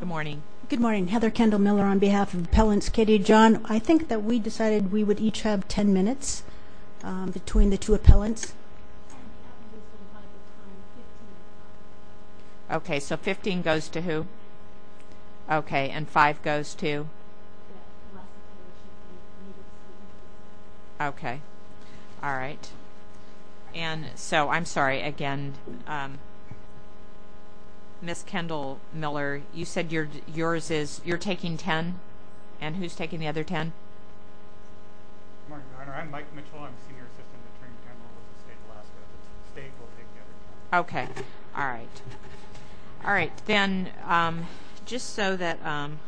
Good morning. Good morning. Heather Kendall Miller on behalf of Appellants Katie and John. I think that we decided we would each have 10 minutes between the two appellants Okay, so 15 goes to who? Okay, and five goes to? Okay, all right, and so I'm sorry again Miss Kendall Miller, you said you're yours is you're taking ten and who's taking the other ten? Okay, all right all right, then just so that I'm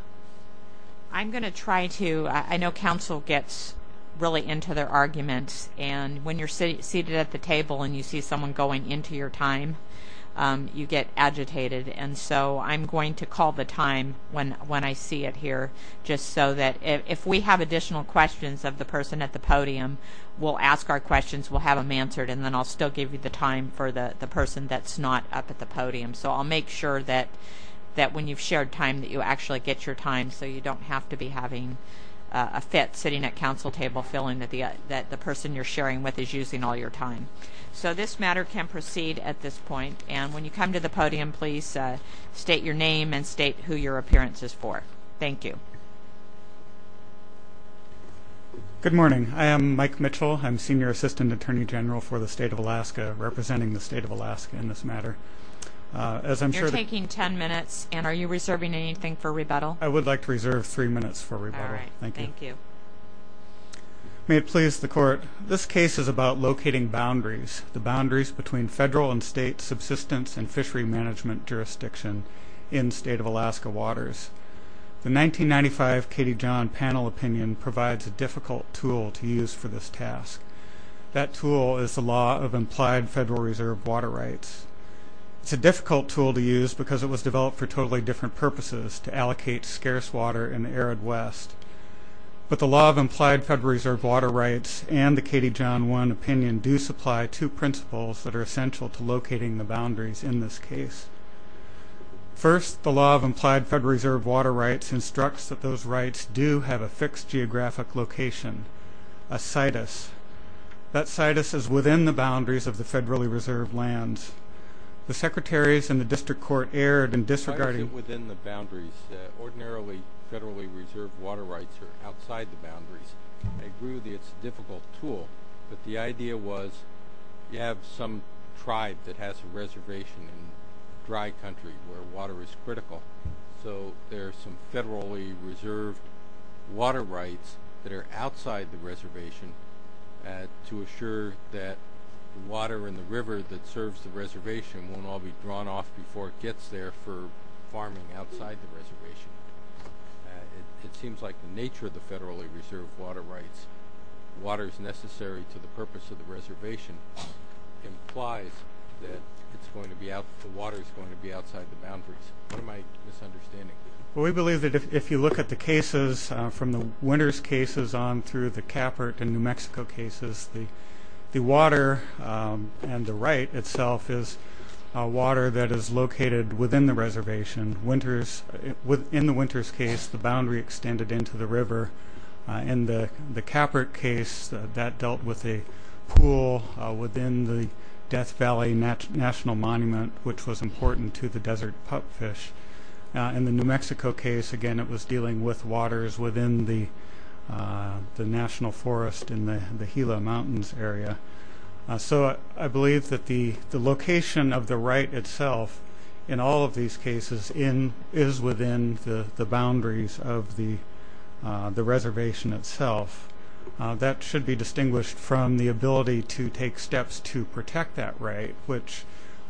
going to try to I know council gets Really into their arguments and when you're sitting seated at the table, and you see someone going into your time You get agitated And so I'm going to call the time when when I see it here Just so that if we have additional questions of the person at the podium, we'll ask our questions We'll have them answered and then I'll still give you the time for the the person that's not up at the podium So I'll make sure that that when you've shared time that you actually get your time So you don't have to be having a fit sitting at council table feeling that the that the person you're sharing with is using all Your time so this matter can proceed at this point and when you come to the podium, please State your name and state who your appearance is for. Thank you Good morning. I am Mike Mitchell. I'm senior assistant attorney general for the state of Alaska representing the state of Alaska in this matter As I'm sure taking ten minutes and are you reserving anything for rebuttal? I would like to reserve three minutes for rebuttal. Thank you May it please the court This case is about locating boundaries the boundaries between federal and state subsistence and fishery management jurisdiction in state of Alaska waters The 1995 Katie John panel opinion provides a difficult tool to use for this task That tool is the law of implied Federal Reserve water rights It's a difficult tool to use because it was developed for totally different purposes to allocate scarce water in the arid West But the law of implied Federal Reserve water rights and the Katie John one opinion do supply two principles that are essential to locating the boundaries in this case First the law of implied Federal Reserve water rights instructs that those rights do have a fixed geographic location a situs That situs is within the boundaries of the federally reserved lands The secretaries and the district court erred and disregarding within the boundaries Ordinarily federally reserved water rights are outside the boundaries. I agree with you It's a difficult tool, but the idea was you have some tribe that has a reservation in Dry country where water is critical. So there are some federally reserved water rights that are outside the reservation and to assure that Water in the river that serves the reservation won't all be drawn off before it gets there for farming outside the reservation It seems like the nature of the federally reserved water rights Water is necessary to the purpose of the reservation Implies that it's going to be out the water is going to be outside the boundaries We believe that if you look at the cases from the Winters cases on through the Capert and New Mexico cases the Water and the right itself is Water that is located within the reservation. In the Winters case the boundary extended into the river In the Capert case that dealt with a pool within the Death Valley National Monument, which was important to the desert pupfish in the New Mexico case again, it was dealing with waters within the National Forest in the the Gila Mountains area so I believe that the the location of the right itself in all of these cases in is within the boundaries of the the reservation itself that should be distinguished from the ability to take steps to protect that right which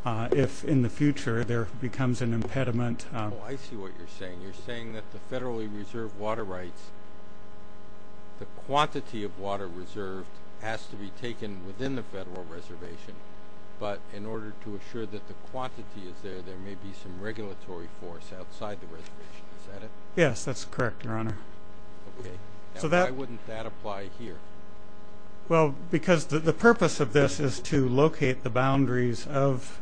If in the future there becomes an impediment I see what you're saying. You're saying that the federally reserved water rights The quantity of water reserved has to be taken within the federal reservation But in order to assure that the quantity is there there may be some regulatory force outside the reservation. Is that it? Yes, that's correct your honor So that wouldn't that apply here? well, because the purpose of this is to locate the boundaries of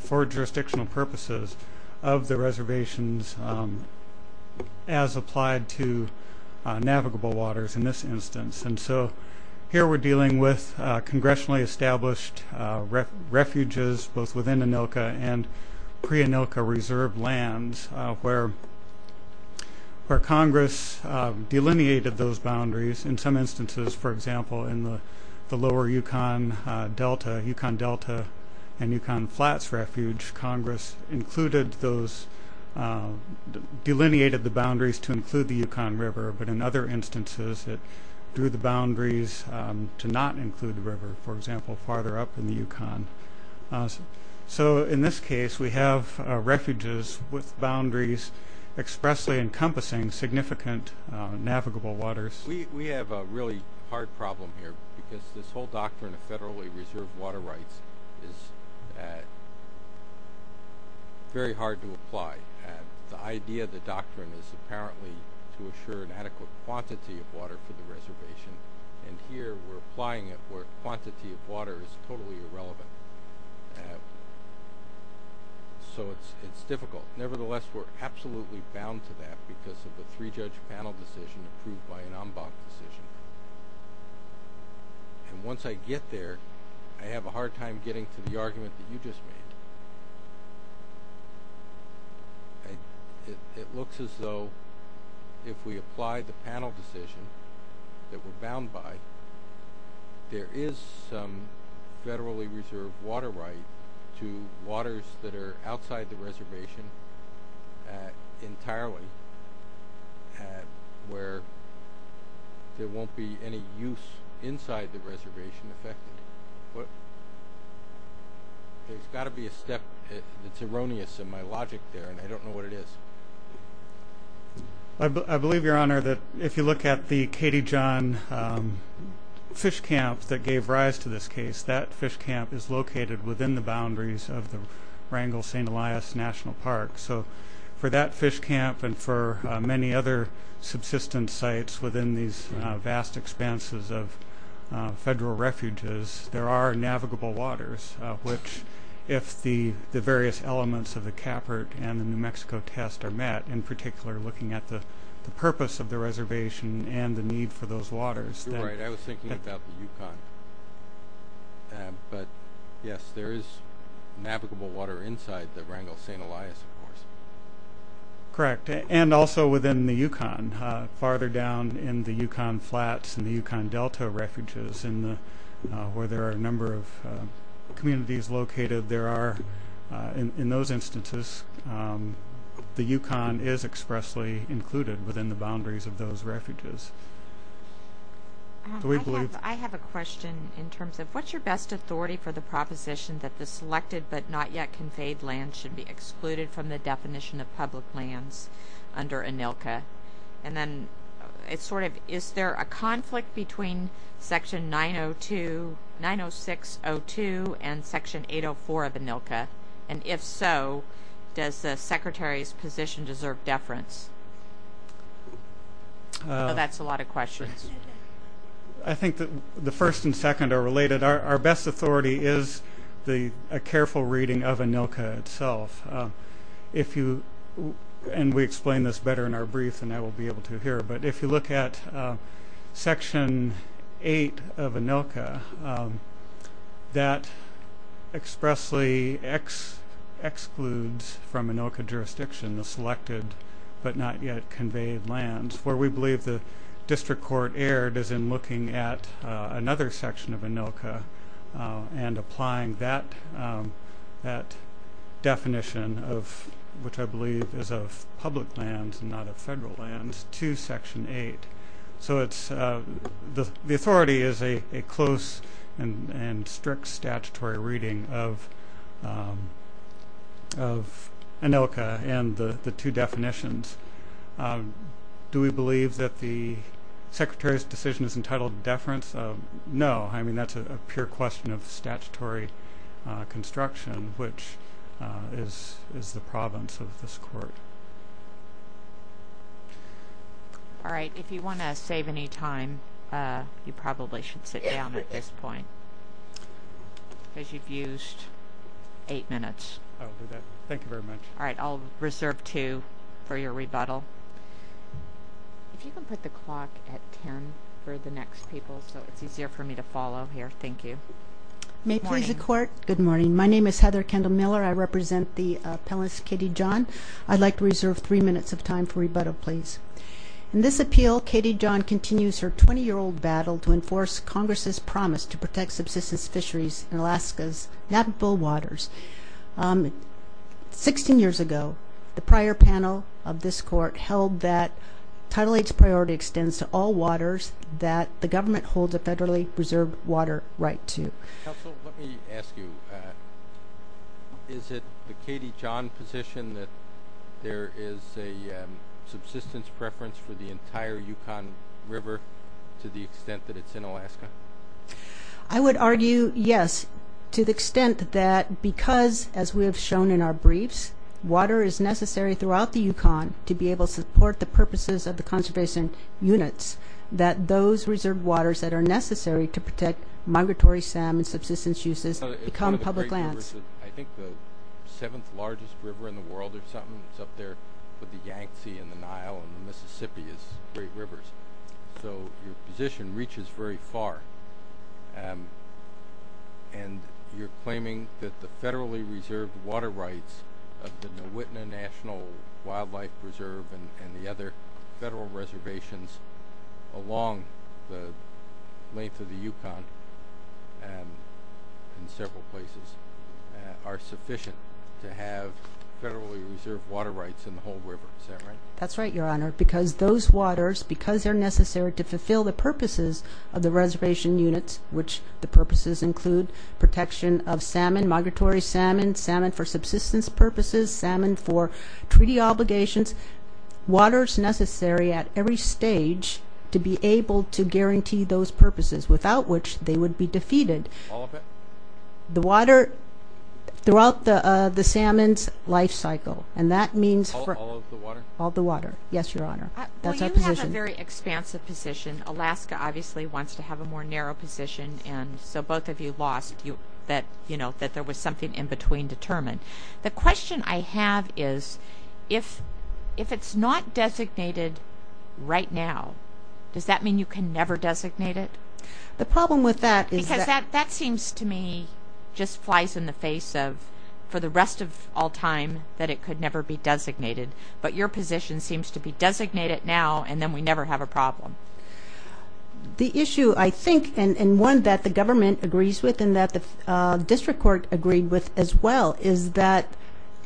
for jurisdictional purposes of the reservations as applied to navigable waters in this instance, and so here we're dealing with congressionally established refuges both within Anilka and pre-Anilka reserved lands where where Congress delineated those boundaries in some instances for example in the lower Yukon Delta, Yukon Delta and Yukon Flats refuge Congress included those delineated the boundaries to include the Yukon River, but in other instances it drew the boundaries To not include the river for example farther up in the Yukon So in this case we have refuges with boundaries expressly encompassing significant Navigable waters. We have a really hard problem here because this whole doctrine of federally reserved water rights is very hard to apply and the idea the doctrine is apparently to assure an adequate quantity of water for the reservation and Here we're applying it where quantity of water is totally irrelevant So it's it's difficult nevertheless, we're absolutely bound to that because of the three judge panel decision approved by an en banc decision And once I get there, I have a hard time getting to the argument that you just made It looks as though if we applied the panel decision that we're bound by There is some Federally reserved water right to waters that are outside the reservation Entirely Where There won't be any use inside the reservation effect There's got to be a step it's erroneous in my logic there, and I don't know what it is I Believe your honor that if you look at the Katie John Fish camp that gave rise to this case that fish camp is located within the boundaries of the Wrangell st Elias National Park so for that fish camp and for many other subsistence sites within these vast expanses of federal refuges there are navigable waters which if the the various elements of the Capert and the New Mexico test are met in particular looking at the Purpose of the reservation and the need for those waters But yes, there is navigable water inside the Wrangell st. Elias of course Correct and also within the Yukon farther down in the Yukon flats and the Yukon Delta refuges in where there are a number of communities located there are in those instances The Yukon is expressly included within the boundaries of those refuges I have a question in terms of what's your best authority for the proposition that the selected but not yet conveyed land should be excluded from the definition of public lands under ANILCA and then It's sort of is there a conflict between section 902 906-02 and section 804 of ANILCA and if so does the secretary's position deserve deference? That's a lot of questions I Authority is the a careful reading of ANILCA itself if you And we explain this better in our brief, and I will be able to hear but if you look at section 8 of ANILCA that expressly excludes from ANILCA jurisdiction the selected But not yet conveyed lands where we believe the district court erred as in looking at another section of ANILCA and applying that that definition of which I believe is of public lands and not of federal lands to section 8 so it's the authority is a close and strict statutory reading of ANILCA and the the two definitions Do we believe that the Statutory construction which is is the province of this court All right if you want to save any time you probably should sit down at this point Because you've used eight minutes. Thank you very much. All right. I'll reserve two for your rebuttal If you can put the clock at ten for the next people so it's easier for me to follow here. Thank you May please the court good morning. My name is Heather Kendall Miller. I represent the appellants Katie John I'd like to reserve three minutes of time for rebuttal Please in this appeal Katie John continues her 20-year-old battle to enforce Congress's promise to protect subsistence fisheries in Alaska's navigable waters 16 years ago the prior panel of this court held that Title 8's priority extends to all waters that the government holds a federally reserved water right to Let me ask you Is it the Katie John position that there is a subsistence preference for the entire Yukon River to the extent that it's in Alaska I Would argue yes to the extent that because as we have shown in our briefs Water is necessary throughout the Yukon to be able to support the purposes of the conservation units That those reserved waters that are necessary to protect migratory salmon subsistence uses become public lands I think the seventh largest river in the world or something It's up there with the Yangtze in the Nile and the Mississippi is great rivers. So your position reaches very far and You're claiming that the federally reserved water rights of the nowitna National Wildlife Reserve and the other Federal reservations along the length of the Yukon in several places are sufficient to have Federally reserved water rights in the whole river. That's right Your honor because those waters because they're necessary to fulfill the purposes of the reservation units Which the purposes include protection of salmon migratory salmon salmon for subsistence purposes salmon for treaty obligations Waters necessary at every stage to be able to guarantee those purposes without which they would be defeated the water Throughout the the salmon's life cycle and that means for all the water. Yes, your honor Expansive position Alaska obviously wants to have a more narrow position And so both of you lost you that you know that there was something in between determined the question I have is if It's not designated Right now does that mean you can never designate it the problem with that is that that seems to me Just flies in the face of for the rest of all time that it could never be designated But your position seems to be designated now, and then we never have a problem the issue I think and one that the government agrees with and that the District Court agreed with as well is that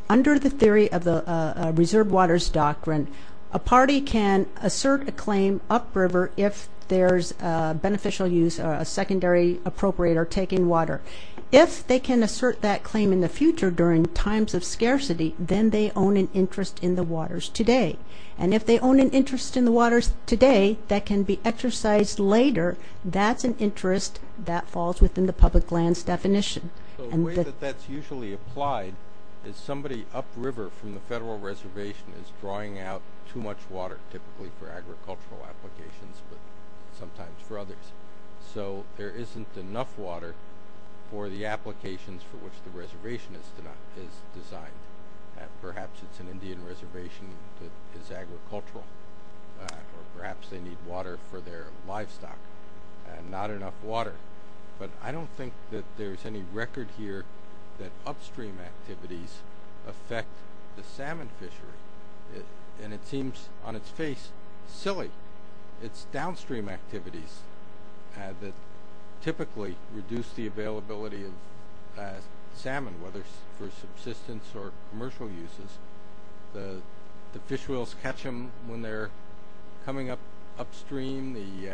Under the theory of the reserve waters doctrine a party can assert a claim upriver if there's beneficial use a secondary appropriator taking water if they can assert that claim in the future during times of scarcity then they Own an interest in the waters today, and if they own an interest in the waters today that can be exercised later That's an interest that falls within the public lands definition That's usually applied is somebody upriver from the federal reservation is drawing out too much water typically for agricultural applications, but sometimes for others so there isn't enough water for The applications for which the reservation is to not is designed Perhaps it's an Indian reservation that is agricultural Or perhaps they need water for their livestock and not enough water But I don't think that there's any record here that upstream activities Affect the salmon fishery it and it seems on its face silly It's downstream activities that typically reduce the availability of Salmon whether for subsistence or commercial uses the the fish wheels catch them when they're coming up upstream the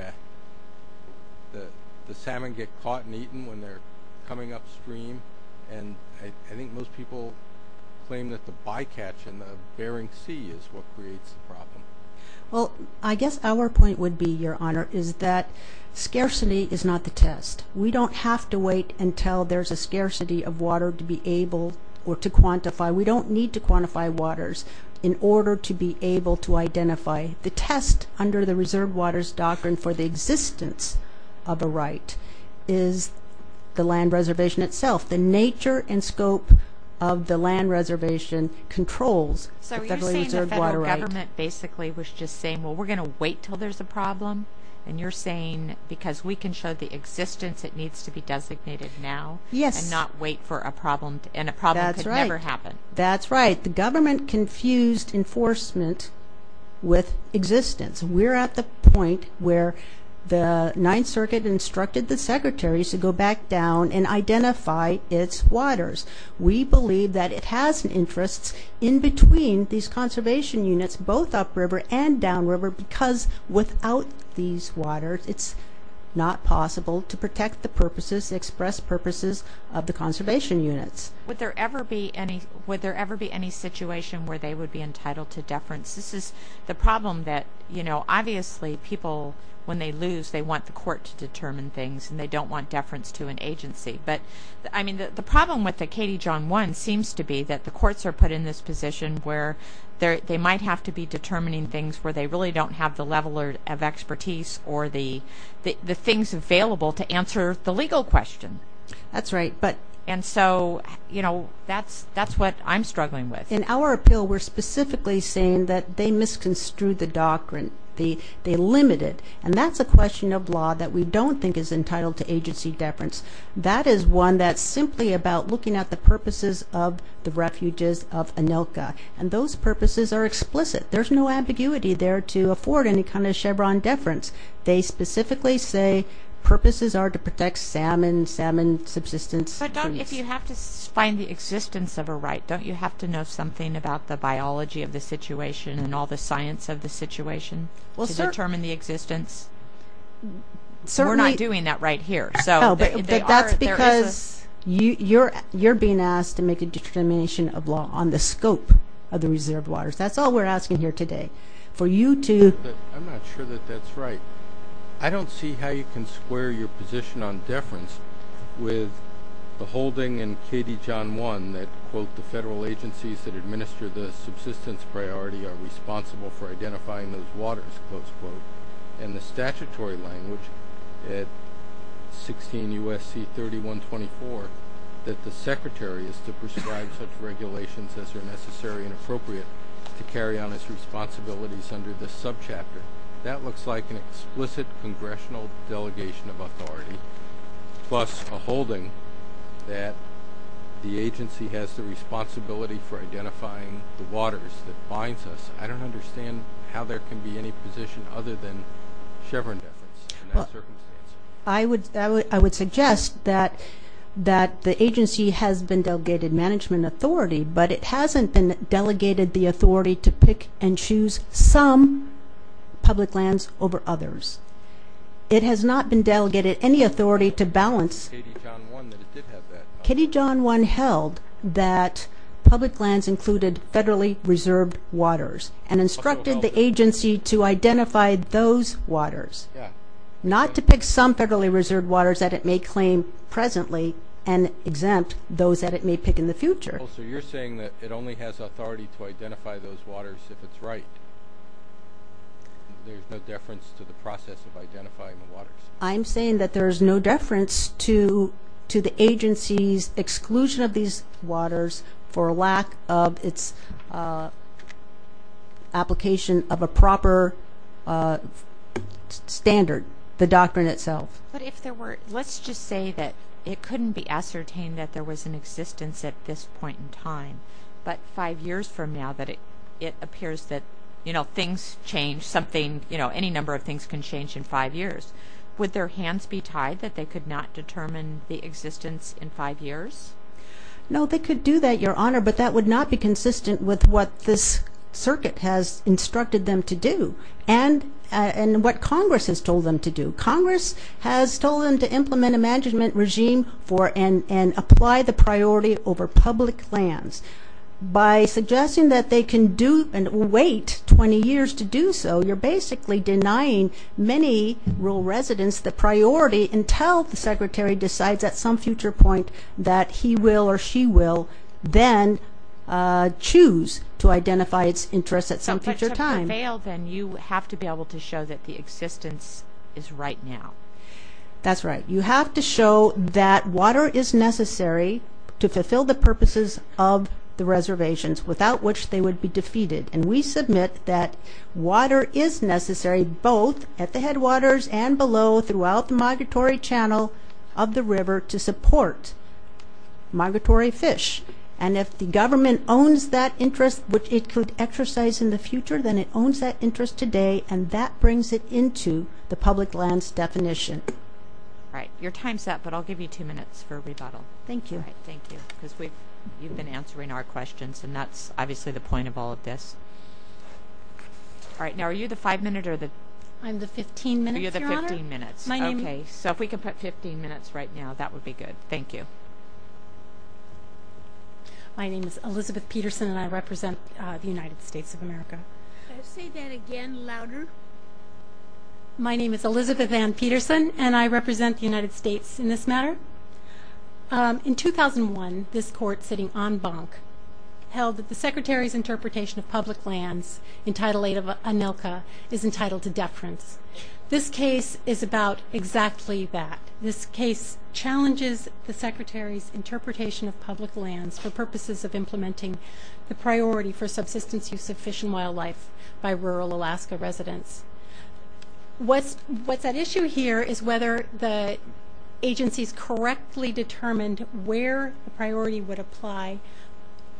The the salmon get caught and eaten when they're coming upstream, and I think most people Claim that the bycatch in the Bering Sea is what creates the problem Well, I guess our point would be your honor is that Scarcity is not the test We don't have to wait until there's a scarcity of water to be able or to quantify We don't need to quantify waters in order to be able to identify The test under the reserved waters doctrine for the existence of a right is The land reservation itself the nature and scope of the land reservation controls Basically was just saying well We're gonna wait till there's a problem and you're saying because we can show the existence it needs to be designated now Yes, not wait for a problem and a problem that's right or happen. That's right the government confused enforcement With existence we're at the point where the Ninth Circuit Instructed the secretaries to go back down and identify its waters we believe that it has an interest in between these conservation units both upriver and downriver because Without these waters. It's not possible to protect the purposes express purposes of the conservation units Would there ever be any would there ever be any situation where they would be entitled to deference? This is the problem that you know Obviously people when they lose they want the court to determine things and they don't want deference to an agency but I mean the problem with the Katie John one seems to be that the courts are put in this position where there they might have to be determining things where they really don't have the level of expertise or the The things available to answer the legal question. That's right But and so, you know, that's that's what I'm struggling with in our appeal We're specifically saying that they misconstrued the doctrine the they limited and that's a question of law that we don't think is entitled to agency Deference that is one that's simply about looking at the purposes of the refuges of Anilka and those purposes are explicit There's no ambiguity there to afford any kind of Chevron deference. They specifically say To protect salmon salmon subsistence I don't if you have to find the existence of a right don't you have to know something about the biology of the situation and All the science of the situation will determine the existence So we're not doing that right here. So that's because You you're you're being asked to make a determination of law on the scope of the reserved waters That's all we're asking here today for you to I'm not sure that that's right I don't see how you can square your position on deference with the holding and Katie John one that quote the federal agencies that administer the subsistence priority are responsible for identifying those waters close quote and the statutory language at 16 USC 31 24 that the secretary is to prescribe such regulations as are necessary and appropriate To carry on its responsibilities under this subchapter that looks like an explicit congressional delegation of authority plus a holding that The agency has the responsibility for identifying the waters that binds us I don't understand how there can be any position other than Chevron I would I would suggest that The agency has been delegated management authority, but it hasn't been delegated the authority to pick and choose some public lands over others It has not been delegated any authority to balance Kitty John one held that Public lands included federally reserved waters and instructed the agency to identify those waters Not to pick some federally reserved waters that it may claim presently and Exempt those that it may pick in the future. So you're saying that it only has authority to identify those waters if it's right I'm saying that there is no deference to to the agency's exclusion of these waters for lack of its Application of a proper Standard the doctrine itself But if there were let's just say that it couldn't be ascertained that there was an existence at this point in time But five years from now that it it appears that you know, things change something, you know Any number of things can change in five years with their hands be tied that they could not determine the existence in five years No, they could do that your honor, but that would not be consistent with what this circuit has instructed them to do and what Congress has told them to do Congress has told them to implement a management regime for and and apply the priority over public lands By suggesting that they can do and wait 20 years to do so You're basically denying many rural residents the priority until the secretary decides at some future point that he will or she will then Choose to identify its interests at some future time bail then you have to be able to show that the existence is right now That's right you have to show that water is necessary to fulfill the purposes of the reservations without which they would be defeated and we submit that Water is necessary both at the headwaters and below throughout the migratory channel of the river to support Migratory fish and if the government owns that interest which it could exercise in the future Then it owns that interest today and that brings it into the public lands definition All right, your time's up, but I'll give you two minutes for a rebuttal. Thank you Thank you, because we've you've been answering our questions and that's obviously the point of all of this All right now are you the five minute or the I'm the 15 minute you're the 15 minutes my name Okay, so if we can put 15 minutes right now, that would be good. Thank you My name is Elizabeth Peterson and I represent the United States of America My name is Elizabeth Ann Peterson and I represent the United States in this matter In 2001 this court sitting en banc Held that the Secretary's interpretation of public lands in Title 8 of ANILCA is entitled to deference This case is about exactly that this case Challenges the Secretary's interpretation of public lands for purposes of implementing the priority for subsistence use of fish and wildlife by rural, Alaska residents What's what's at issue here is whether the Agencies correctly determined where the priority would apply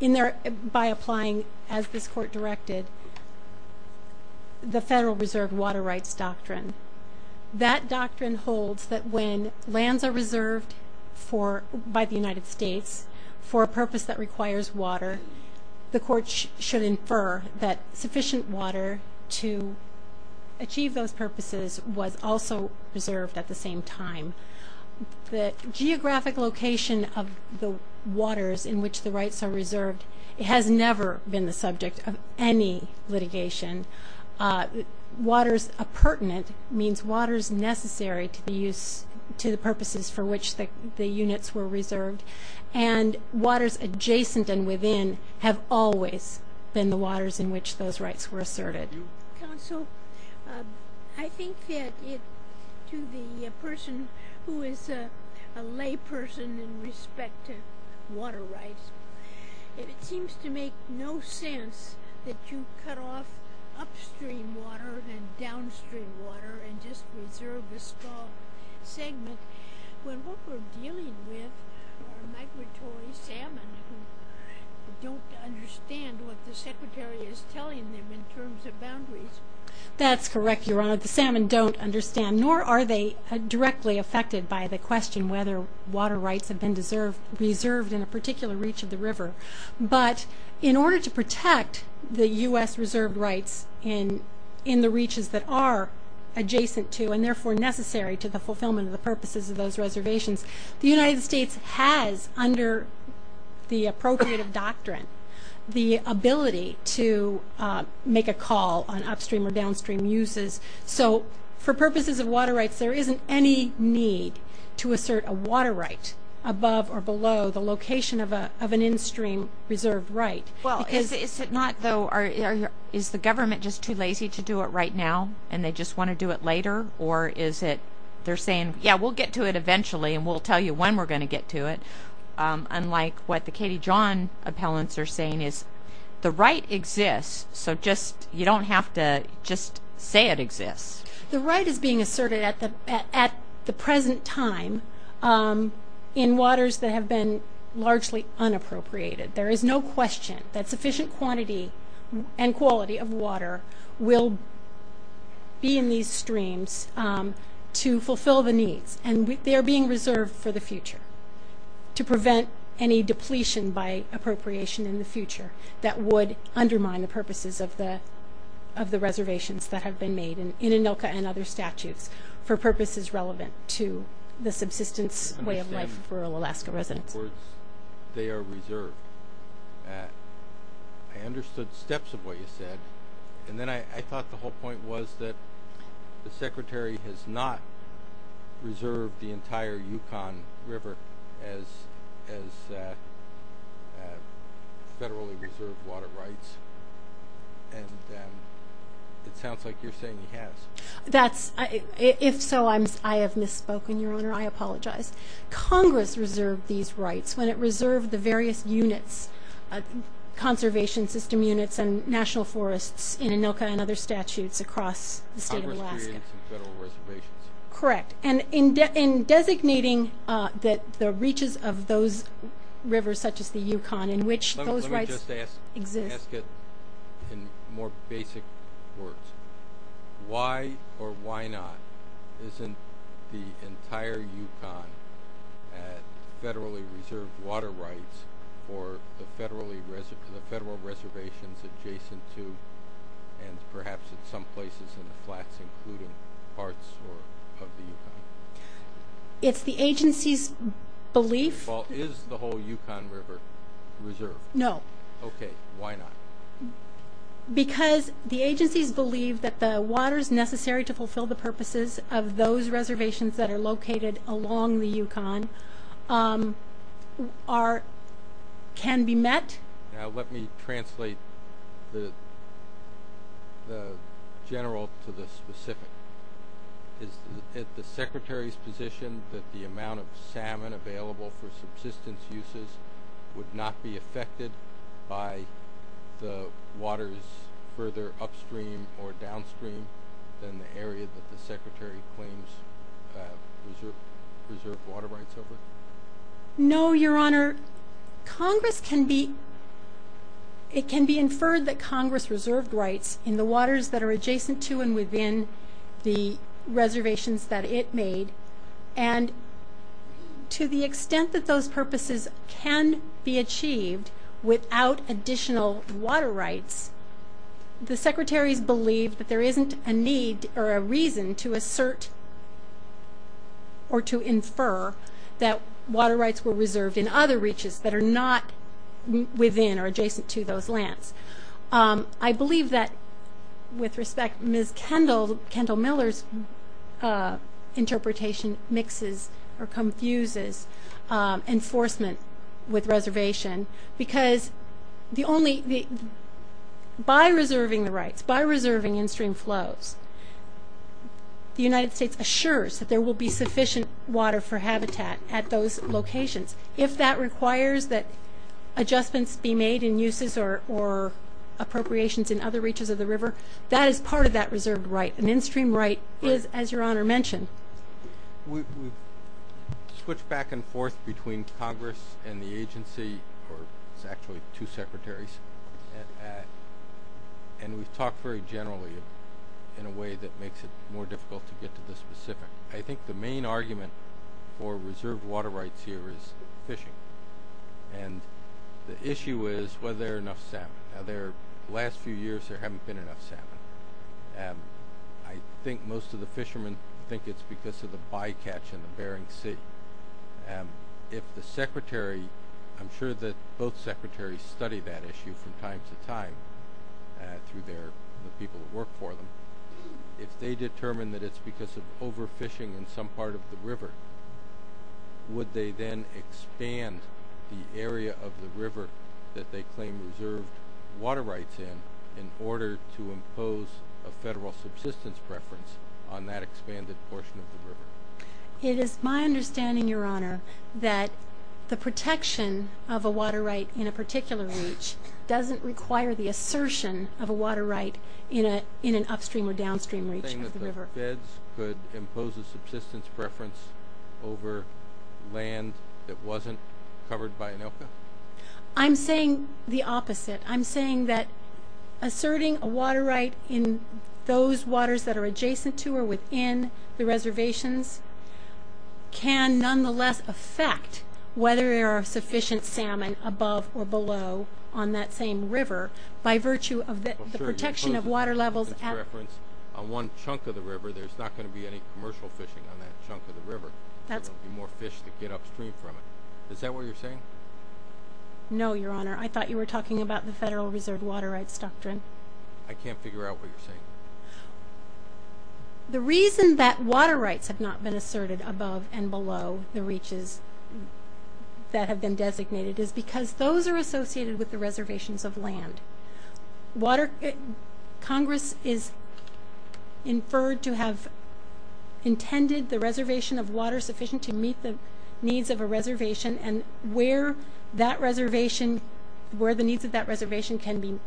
in there by applying as this court directed The Federal Reserve water rights doctrine That doctrine holds that when lands are reserved for by the United States for a purpose that requires water the court should infer that sufficient water to Achieve those purposes was also reserved at the same time The geographic location of the waters in which the rights are reserved. It has never been the subject of any litigation Waters appurtenant means waters necessary to the use to the purposes for which the the units were reserved and Waters adjacent and within have always been the waters in which those rights were asserted Counsel, I think that to the person who is a lay person in respect to water rights It seems to make no sense that you cut off upstream water and downstream water and just reserve the small segment When what we're dealing with are migratory salmon who don't understand what the Secretary is telling them in terms of boundaries That's correct, Your Honor. The salmon don't understand nor are they directly affected by the question whether water rights have been Reserved in a particular reach of the river But in order to protect the U.S. reserved rights in the reaches that are Adjacent to and therefore necessary to the fulfillment of the purposes of those reservations the United States has under the appropriative doctrine the ability to Make a call on upstream or downstream uses so for purposes of water rights There isn't any need to assert a water right above or below the location of a of an in-stream reserved Right. Well is it not though or is the government just too lazy to do it right now? And they just want to do it later, or is it they're saying yeah We'll get to it eventually and we'll tell you when we're going to get to it Unlike what the Katie John appellants are saying is the right exists So just you don't have to just say it exists. The right is being asserted at the at the present time In waters that have been largely Unappropriated there is no question that sufficient quantity and quality of water will Be in these streams To fulfill the needs and they are being reserved for the future To prevent any depletion by appropriation in the future that would undermine the purposes of the Of the reservations that have been made and in Anilka and other statutes for purposes relevant to the subsistence Alaska residents They are reserved Understood steps of what you said, and then I thought the whole point was that the secretary has not Reserved the entire Yukon River as Federally reserved water rights It sounds like you're saying he has that's if so, I'm I have misspoken your honor I apologize Congress reserved these rights when it reserved the various units Conservation system units and national forests in Anilka and other statutes across Alaska Correct and in designating that the reaches of those Rivers such as the Yukon in which those rights exist in more basic words Why or why not isn't the entire Yukon Federally reserved water rights or the federally reserved the federal reservations adjacent to and Parts It's the agency's belief is the whole Yukon River reserve no, okay, why not Because the agency's believe that the water is necessary to fulfill the purposes of those reservations that are located along the Yukon Are can be met now, let me translate the The general to the specific Is that the secretary's position that the amount of salmon available for subsistence uses? would not be affected by The water is further upstream or downstream than the area that the secretary claims No, your honor Congress can be It can be inferred that Congress reserved rights in the waters that are adjacent to and within the reservations that it made and To the extent that those purposes can be achieved without additional water rights The secretary's believed that there isn't a need or a reason to assert Or to infer that water rights were reserved in other reaches that are not Within or adjacent to those lands. I believe that with respect miss Kendall Kendall Miller's Interpretation mixes or confuses enforcement with reservation because the only the by reserving the rights by reserving in stream flows The United States assures that there will be sufficient water for habitat at those locations if that requires that Adjustments be made in uses or Appropriations in other reaches of the river that is part of that reserved right an in-stream right is as your honor mentioned we Switch back and forth between Congress and the agency or it's actually two secretaries And we've talked very generally in a way that makes it more difficult to get to the specific I think the main argument for reserved water rights here is fishing and The issue is whether they're enough salmon their last few years. There haven't been enough salmon and I think most of the fishermen think it's because of the bycatch in the Bering Sea and If the secretary, I'm sure that both secretaries study that issue from time to time Through their the people that work for them if they determine that it's because of overfishing in some part of the river Would they then expand the area of the river that they claim reserved Water rights in in order to impose a federal subsistence preference on that expanded portion of the river It is my understanding your honor that the protection of a water right in a particular reach Doesn't require the assertion of a water right in a in an upstream or downstream reach Could impose a subsistence preference over Land that wasn't covered by an ILCA. I'm saying the opposite. I'm saying that Asserting a water right in those waters that are adjacent to or within the reservations Can nonetheless affect whether there are sufficient salmon above or below on that same river By virtue of the protection of water levels and reference on one chunk of the river There's not going to be any commercial fishing on that chunk of the river. That's more fish to get upstream from it Is that what you're saying? No, your honor. I thought you were talking about the Federal Reserve water rights doctrine. I can't figure out what you're saying The reason that water rights have not been asserted above and below the reaches That have been designated is because those are associated with the reservations of land water Congress is Inferred to have Intended the reservation of water sufficient to meet the needs of a reservation and where that reservation Where the needs of that reservation can be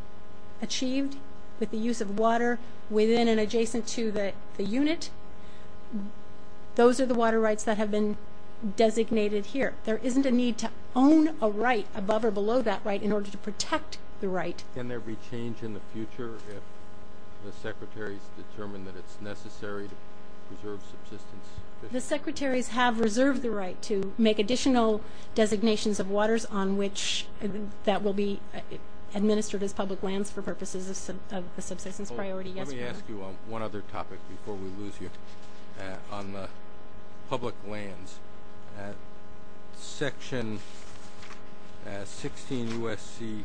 achieved with the use of water within and adjacent to the unit Those are the water rights that have been Designated here. There isn't a need to own a right above or below that right in order to protect the right Can there be change in the future if the secretaries determine that it's necessary to preserve subsistence? The secretaries have reserved the right to make additional designations of waters on which that will be On the public lands Section 16 USC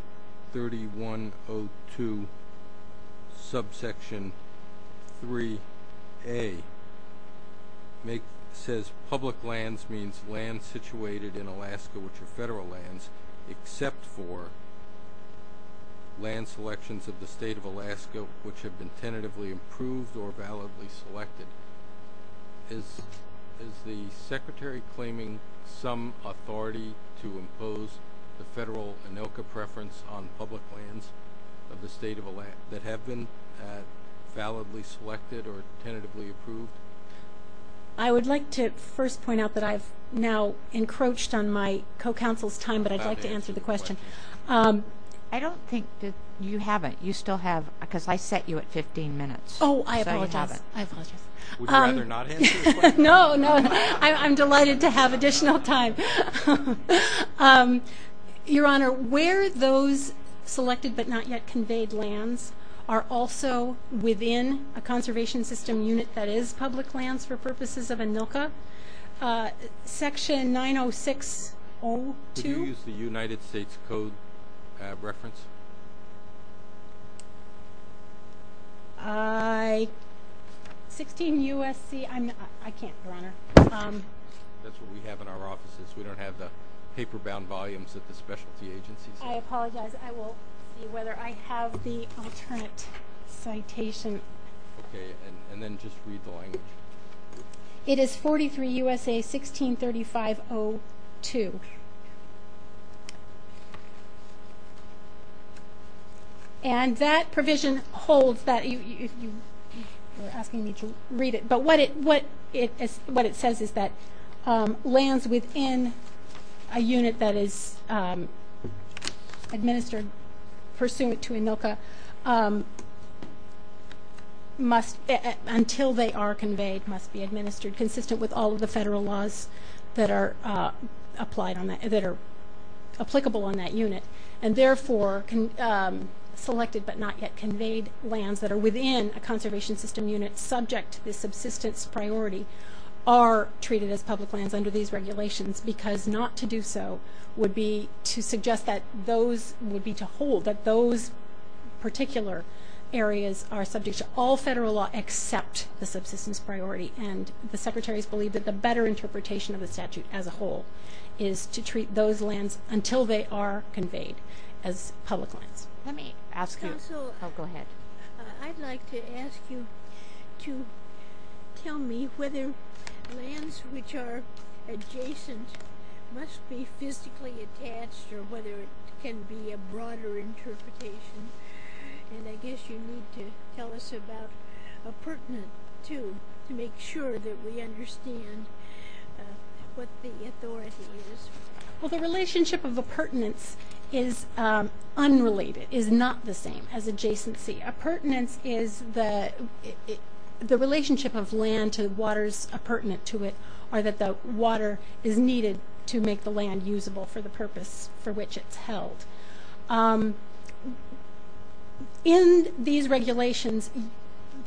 3102 Subsection 3 a Make says public lands means land situated in Alaska, which are federal lands except for Land selections of the state of Alaska which have been tentatively approved or validly selected Is is the secretary claiming some authority to impose the federal? Anoka preference on public lands of the state of Alaska that have been validly selected or tentatively approved I Would like to first point out that I've now encroached on my co-counsel's time, but I'd like to answer the question I don't think that you haven't you still have because I set you at 15 minutes. Oh, I apologize I apologize. Would you rather not answer the question? No, no, I'm delighted to have additional time Your honor where those Selected but not yet conveyed lands are also within a conservation system unit. That is public lands for purposes of Anoka Section 906-02. Could you use the United States Code reference? 16 USC, I'm not I can't your honor That's what we have in our offices. We don't have the paper bound volumes at the specialty agencies. I apologize I will see whether I have the alternate Citation. Okay, and then just read the language It is 43 USA 1635-02 And that provision holds that you Are asking me to read it, but what it what it is what it says is that lands within a unit that is Administered pursuant to Anoka Must until they are conveyed must be administered consistent with all of the federal laws that are applied on that that are applicable on that unit and therefore can Selected but not yet conveyed lands that are within a conservation system unit subject to the subsistence priority are Treated as public lands under these regulations because not to do so would be to suggest that those would be to hold that those particular areas are subject to all federal law except the subsistence priority and the secretaries believe that the better Interpretation of the statute as a whole is to treat those lands until they are conveyed as public lands Let me ask you. I'll go ahead I'd like to ask you to Tell me whether lands which are Adjacent must be physically attached or whether it can be a broader Interpretation and I guess you need to tell us about a pertinent to to make sure that we understand What the authority is? Well the relationship of a pertinence is Unrelated is not the same as adjacency a pertinence is the The relationship of land to the waters a pertinent to it or that the water is Needed to make the land usable for the purpose for which it's held In these regulations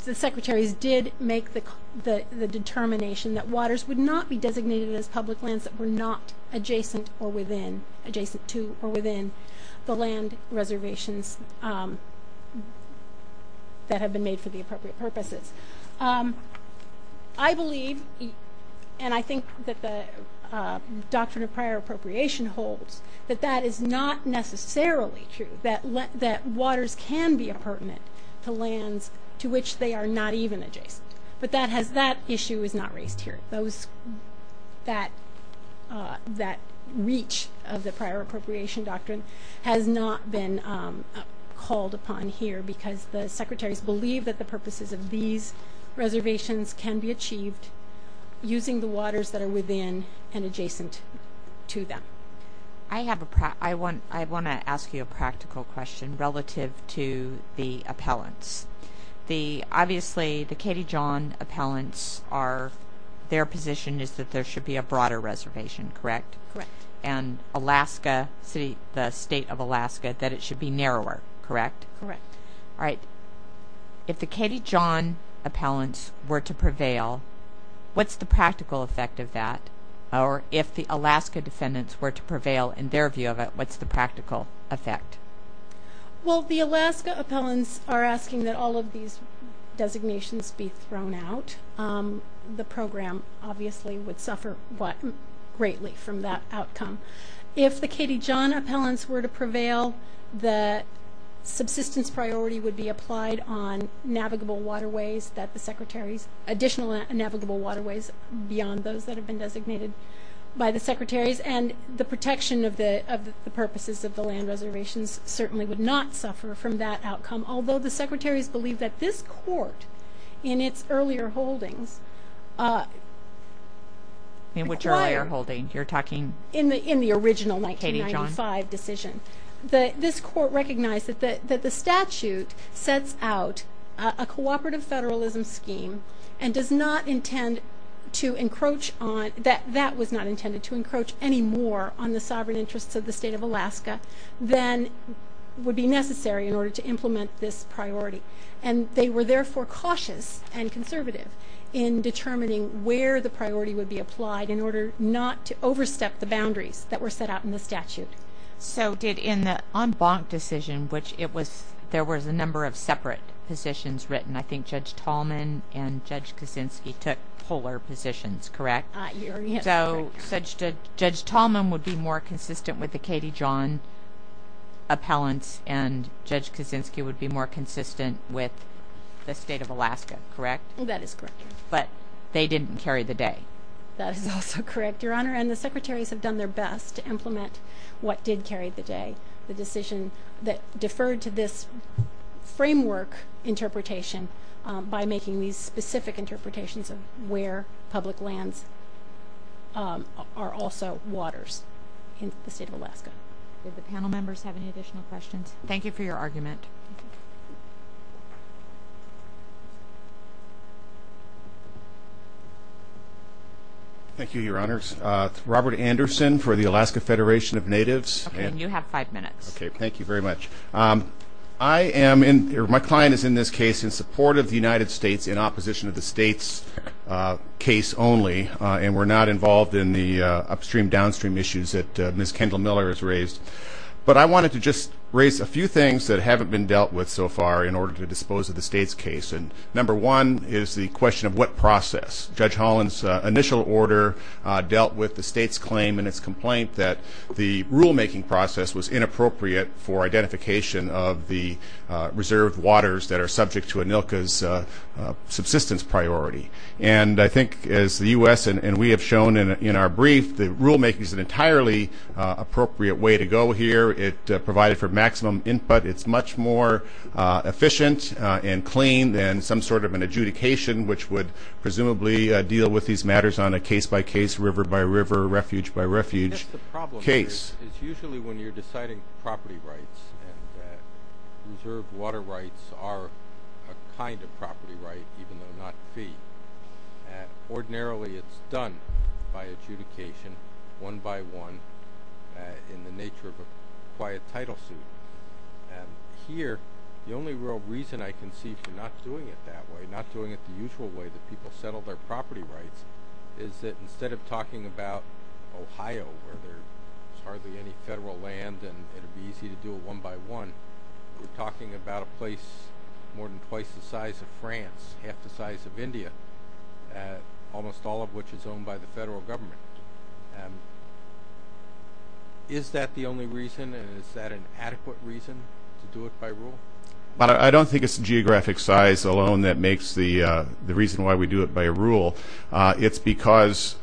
the secretaries did make the Determination that waters would not be designated as public lands that were not Reservations That have been made for the appropriate purposes I believe and I think that the Doctrine of prior appropriation holds that that is not necessarily true that let that waters can be a pertinent To lands to which they are not even adjacent, but that has that issue is not raised here those that That reach of the prior appropriation doctrine has not been Called upon here because the secretaries believe that the purposes of these Reservations can be achieved Using the waters that are within and adjacent to them I have a I want I want to ask you a practical question relative to the appellants the obviously the Katie John appellants are Their position is that there should be a broader reservation, correct? Correct, and Alaska City the state of Alaska that it should be narrower, correct? Correct. All right if the Katie John Appellants were to prevail What's the practical effect of that or if the Alaska defendants were to prevail in their view of it? What's the practical effect? Well, the Alaska appellants are asking that all of these designations be thrown out The program obviously would suffer what greatly from that outcome if the Katie John appellants were to prevail the Subsistence priority would be applied on Navigable waterways that the secretaries additional navigable waterways beyond those that have been designated By the secretaries and the protection of the of the purposes of the land reservations certainly would not suffer from that outcome Although the secretaries believe that this court in its earlier holdings In which earlier holding you're talking in the in the original 1995 decision that this court recognized that that the statute sets out a Cooperative federalism scheme and does not intend to encroach on that that was not intended to encroach any more on the sovereign interests of the state of Alaska then Would be necessary in order to implement this priority and they were therefore cautious and conservative in Determining where the priority would be applied in order not to overstep the boundaries that were set out in the statute So did in the en banc decision, which it was there was a number of separate positions written I think Judge Tallman and Judge Kaczynski took polar positions, correct? So such did Judge Tallman would be more consistent with the Katie John Appellants and Judge Kaczynski would be more consistent with the state of Alaska, correct? Well, that is correct, but they didn't carry the day That is also correct your honor and the secretaries have done their best to implement What did carry the day the decision that deferred to this? framework Interpretation by making these specific interpretations of where public lands Are also waters in the state of Alaska the panel members have any additional questions. Thank you for your argument Thank you your honors Robert Anderson for the Alaska Federation of Natives and you have five minutes, okay Thank you very much. I am in my client is in this case in support of the United States in opposition of the state's Only and we're not involved in the upstream downstream issues that miss Kendall Miller is raised But I wanted to just raise a few things that haven't been dealt with so far in order to dispose of the state's case And number one is the question of what process Judge Holland's initial order dealt with the state's claim and its complaint that the rulemaking process was inappropriate for identification of the reserved waters that are subject to a Nilka's The u.s.. And we have shown in our brief the rulemaking is an entirely Appropriate way to go here it provided for maximum input. It's much more efficient and clean than some sort of an adjudication which would Presumably deal with these matters on a case-by-case river-by-river refuge-by-refuge case Water rights are kind of property right even though not fee Ordinarily, it's done by adjudication one by one in the nature of a quiet title suit and Here the only real reason I can see for not doing it that way not doing it the usual way that people settle their property Rights is that instead of talking about? Ohio where there's hardly any federal land and it'll be easy to do a one by one We're talking about a place more than twice the size of France half the size of India Almost all of which is owned by the federal government Is that the only reason is that an adequate reason to do it by rule But I don't think it's a geographic size alone that makes the the reason why we do it by a rule it's because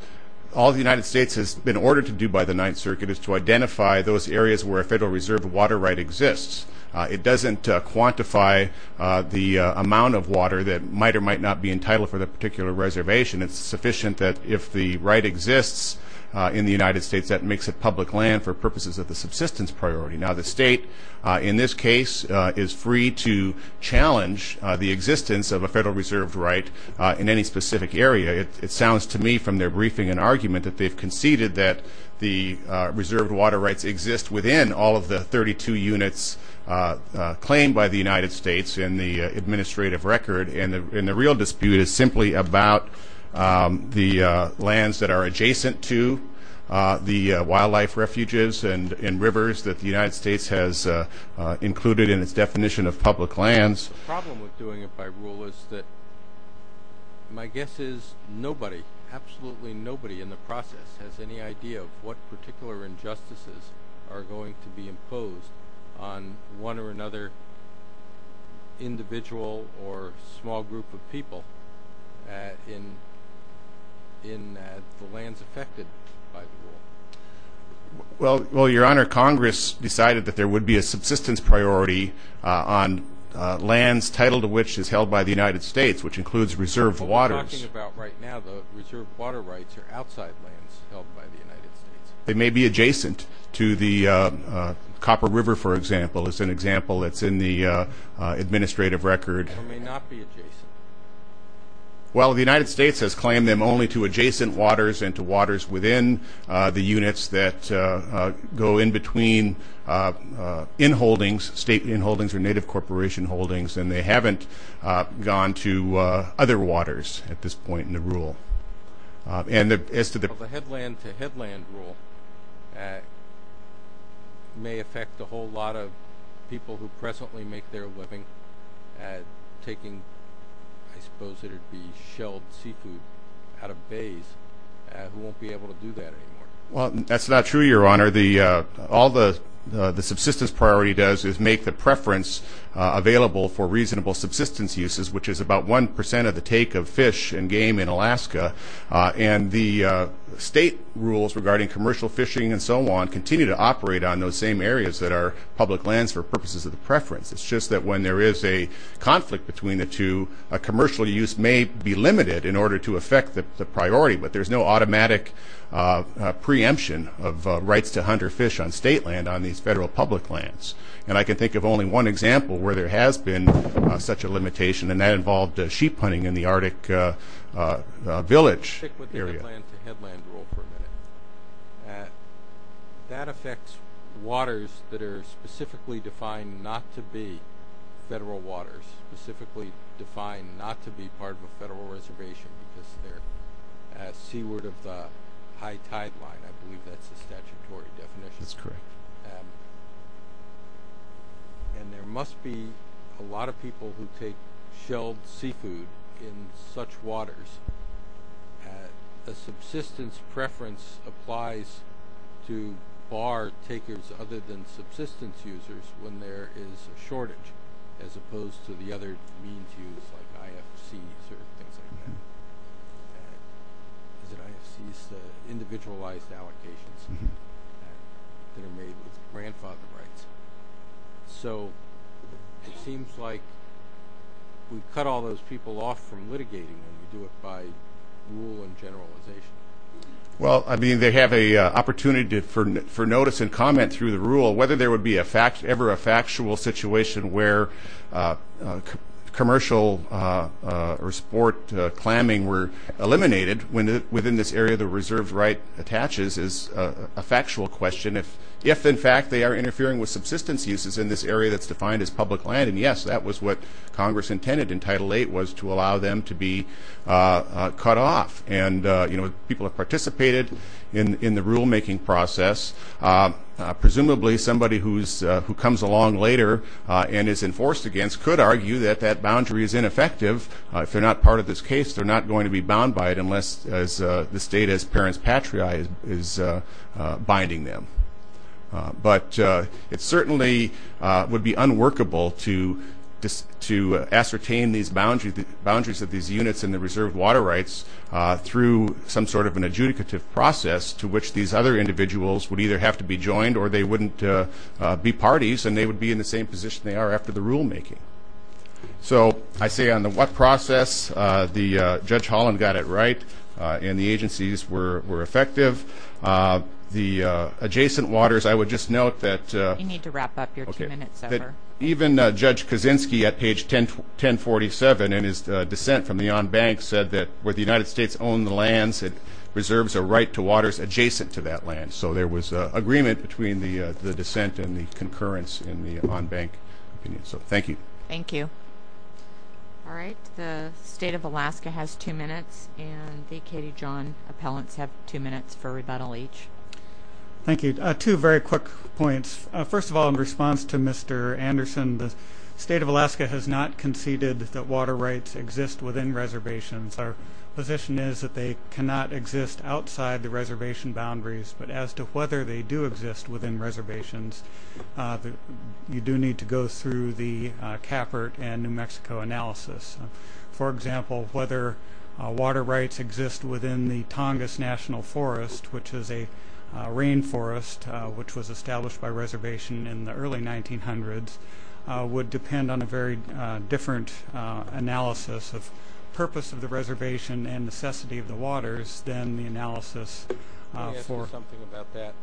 All the United States has been ordered to do by the Ninth Circuit is to identify those areas where a Federal Reserve water right exists It doesn't quantify The amount of water that might or might not be entitled for the particular reservation It's sufficient that if the right exists in the United States that makes it public land for purposes of the subsistence priority now the state In this case is free to challenge the existence of a Federal Reserve right in any specific area it sounds to me from their briefing an argument that they've conceded that the Reserved water rights exist within all of the 32 units Claimed by the United States in the administrative record and the in the real dispute is simply about the lands that are adjacent to the wildlife refuges and in rivers that the United States has Included in its definition of public lands My guess is nobody absolutely nobody in the process has any idea of what particular injustices are going to be imposed on one or another Individual or small group of people in in the lands affected by the rule Well well your honor Congress decided that there would be a subsistence priority on Lands titled of which is held by the United States which includes reserved waters They may be adjacent to the Copper River for example as an example. It's in the administrative record Well the United States has claimed them only to adjacent waters and to waters within the units that go in between In holdings state in holdings or native corporation holdings, and they haven't Gone to other waters at this point in the rule and as to the Headland to headland rule May affect the whole lot of people who presently make their living Taking I suppose it'd be shelled seafood out of bays Well that's not true your honor the all the the subsistence priority does is make the preference available for reasonable subsistence uses which is about 1% of the take of fish and game in Alaska and the State rules regarding commercial fishing and so on continue to operate on those same areas that are public lands for purposes of the preference It's just that when there is a conflict between the two a commercial use may be limited in order to affect the priority But there's no automatic Preemption of rights to hunt or fish on state land on these federal public lands And I can think of only one example where there has been such a limitation and that involved sheep hunting in the Arctic Village That affects waters that are specifically defined not to be federal waters specifically defined not to be part of a federal reservation because they're Seaward of the high tide line. I believe that's a statutory definition. That's correct And There must be a lot of people who take shelled seafood in such waters a Subsistence preference applies to Bar takers other than subsistence users when there is a shortage as opposed to the other Individualized allocations So it seems like we cut all those people off from litigating Well, I mean they have a opportunity to for notice and comment through the rule whether there would be a fact ever a factual situation where Commercial or sport clamming were Interfering with subsistence uses in this area that's defined as public land And yes, that was what Congress intended in title eight was to allow them to be Cut off and you know people have participated in in the rulemaking process Presumably somebody who's who comes along later and is enforced against could argue that that boundary is ineffective if they're not part of this case, they're not going to be bound by it unless as the state as parents patria is binding them But it certainly Would be unworkable to just to ascertain these boundaries the boundaries of these units in the reserved water rights Through some sort of an adjudicative process to which these other individuals would either have to be joined or they wouldn't Be parties and they would be in the same position. They are after the rulemaking So I say on the what process the judge Holland got it, right and the agencies were were effective The adjacent waters, I would just note that Even judge Kaczynski at page 1047 and his dissent from the on bank said that where the United States owned the lands it Reserves a right to waters adjacent to that land So there was a agreement between the the dissent and the concurrence in the on bank opinion. So, thank you. Thank you All right, the state of Alaska has two minutes and the Katie John appellants have two minutes for rebuttal each Thank you two very quick points. First of all in response to mr Anderson the state of Alaska has not conceded that water rights exist within reservations Our position is that they cannot exist outside the reservation boundaries, but as to whether they do exist within reservations You do need to go through the Capert and New Mexico analysis for example whether water rights exist within the Tongass National Forest, which is a Rain forest which was established by reservation in the early 1900s Would depend on a very different Analysis of purpose of the reservation and necessity of the waters than the analysis for something about that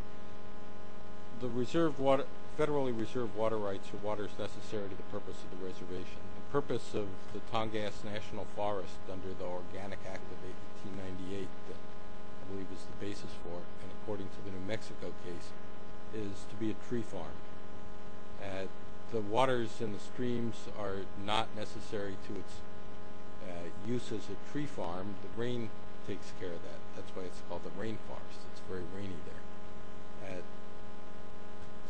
The reserve water federally reserved water rights for waters necessary to the purpose of the reservation the purpose of the Tongass National Forest under the Organic Act of 1898 We was the basis for and according to the New Mexico case is to be a tree farm The waters and the streams are not necessary to its Uses a tree farm the rain takes care of that. That's why it's called the rain forest. It's very rainy there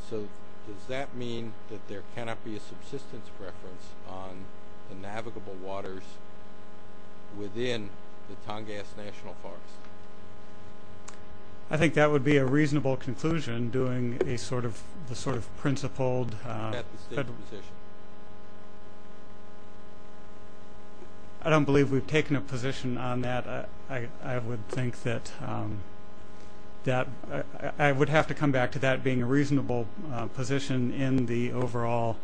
So does that mean that there cannot be a subsistence reference on the navigable waters? within the Tongass National Forest I Think that would be a reasonable conclusion doing a sort of the sort of principled I don't believe we've taken a position on that. I would think that That I would have to come back to that being a reasonable position in the overall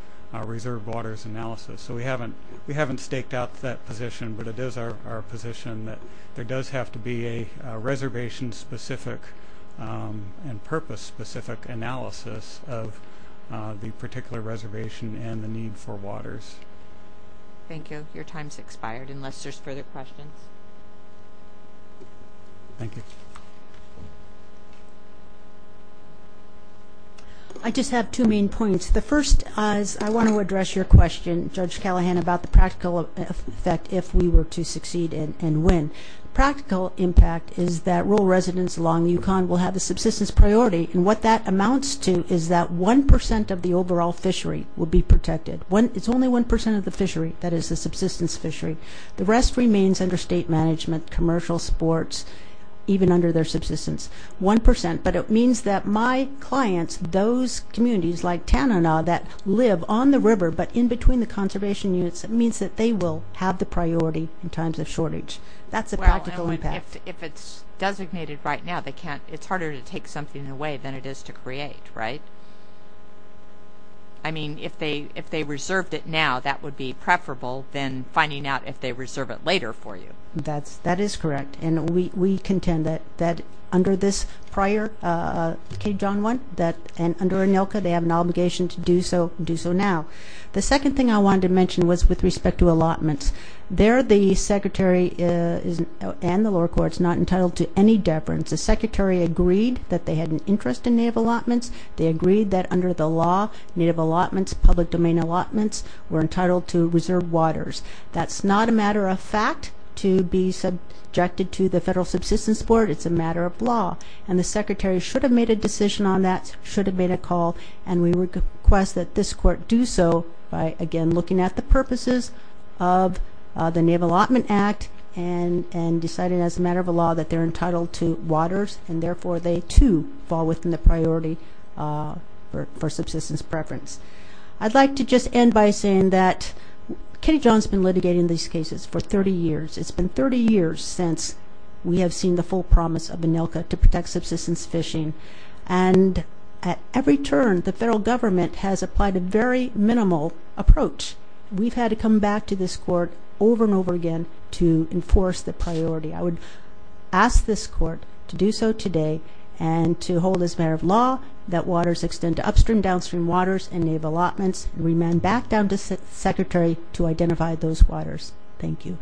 Reserve waters analysis, so we haven't we haven't staked out that position, but it is our position that there does have to be a reservation specific and purpose specific analysis of The particular reservation and the need for waters Thank you. Your time's expired unless there's further questions I Just have two main points the first eyes I want to address your question judge Callahan about the practical effect If we were to succeed in and win practical impact is that rural residents along the Yukon will have the subsistence priority and what that amounts to is that 1% of the overall fishery will be protected when it's only 1% of the fishery that is the subsistence fishery The rest remains under state management commercial sports Even under their subsistence 1% but it means that my clients those Communities like Tanana that live on the river, but in between the conservation units It means that they will have the priority in times of shortage. That's a practical impact if it's designated right now They can't it's harder to take something away than it is to create right I Reserve it later for you. That's that is correct. And we contend that that under this prior Cape John one that and under an Ilka they have an obligation to do so do so now The second thing I wanted to mention was with respect to allotments there the secretary And the lower courts not entitled to any deference the secretary agreed that they had an interest in native allotments They agreed that under the law native allotments public domain allotments were entitled to reserve waters That's not a matter of fact to be subjected to the federal subsistence board It's a matter of law and the secretary should have made a decision on that should have made a call and we request that this court do so by again looking at the purposes of the naval allotment act and And decided as a matter of a law that they're entitled to waters and therefore they to fall within the priority for subsistence preference, I'd like to just end by saying that Kenny John's been litigating these cases for 30 years. It's been 30 years since we have seen the full promise of an Ilka to protect subsistence fishing and At every turn the federal government has applied a very minimal approach We've had to come back to this court over and over again to enforce the priority I would ask this court to do so today and To hold as a matter of law that waters extend to upstream downstream waters and naval allotments remain back down to the secretary To identify those waters. Thank you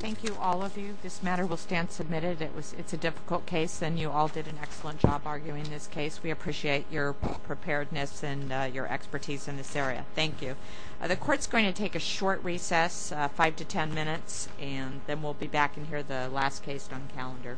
Thank you. All of you this matter will stand submitted It was it's a difficult case and you all did an excellent job arguing this case. We appreciate your preparedness and your expertise in this area Thank you The courts going to take a short recess five to ten minutes and then we'll be back in here the last case on calendar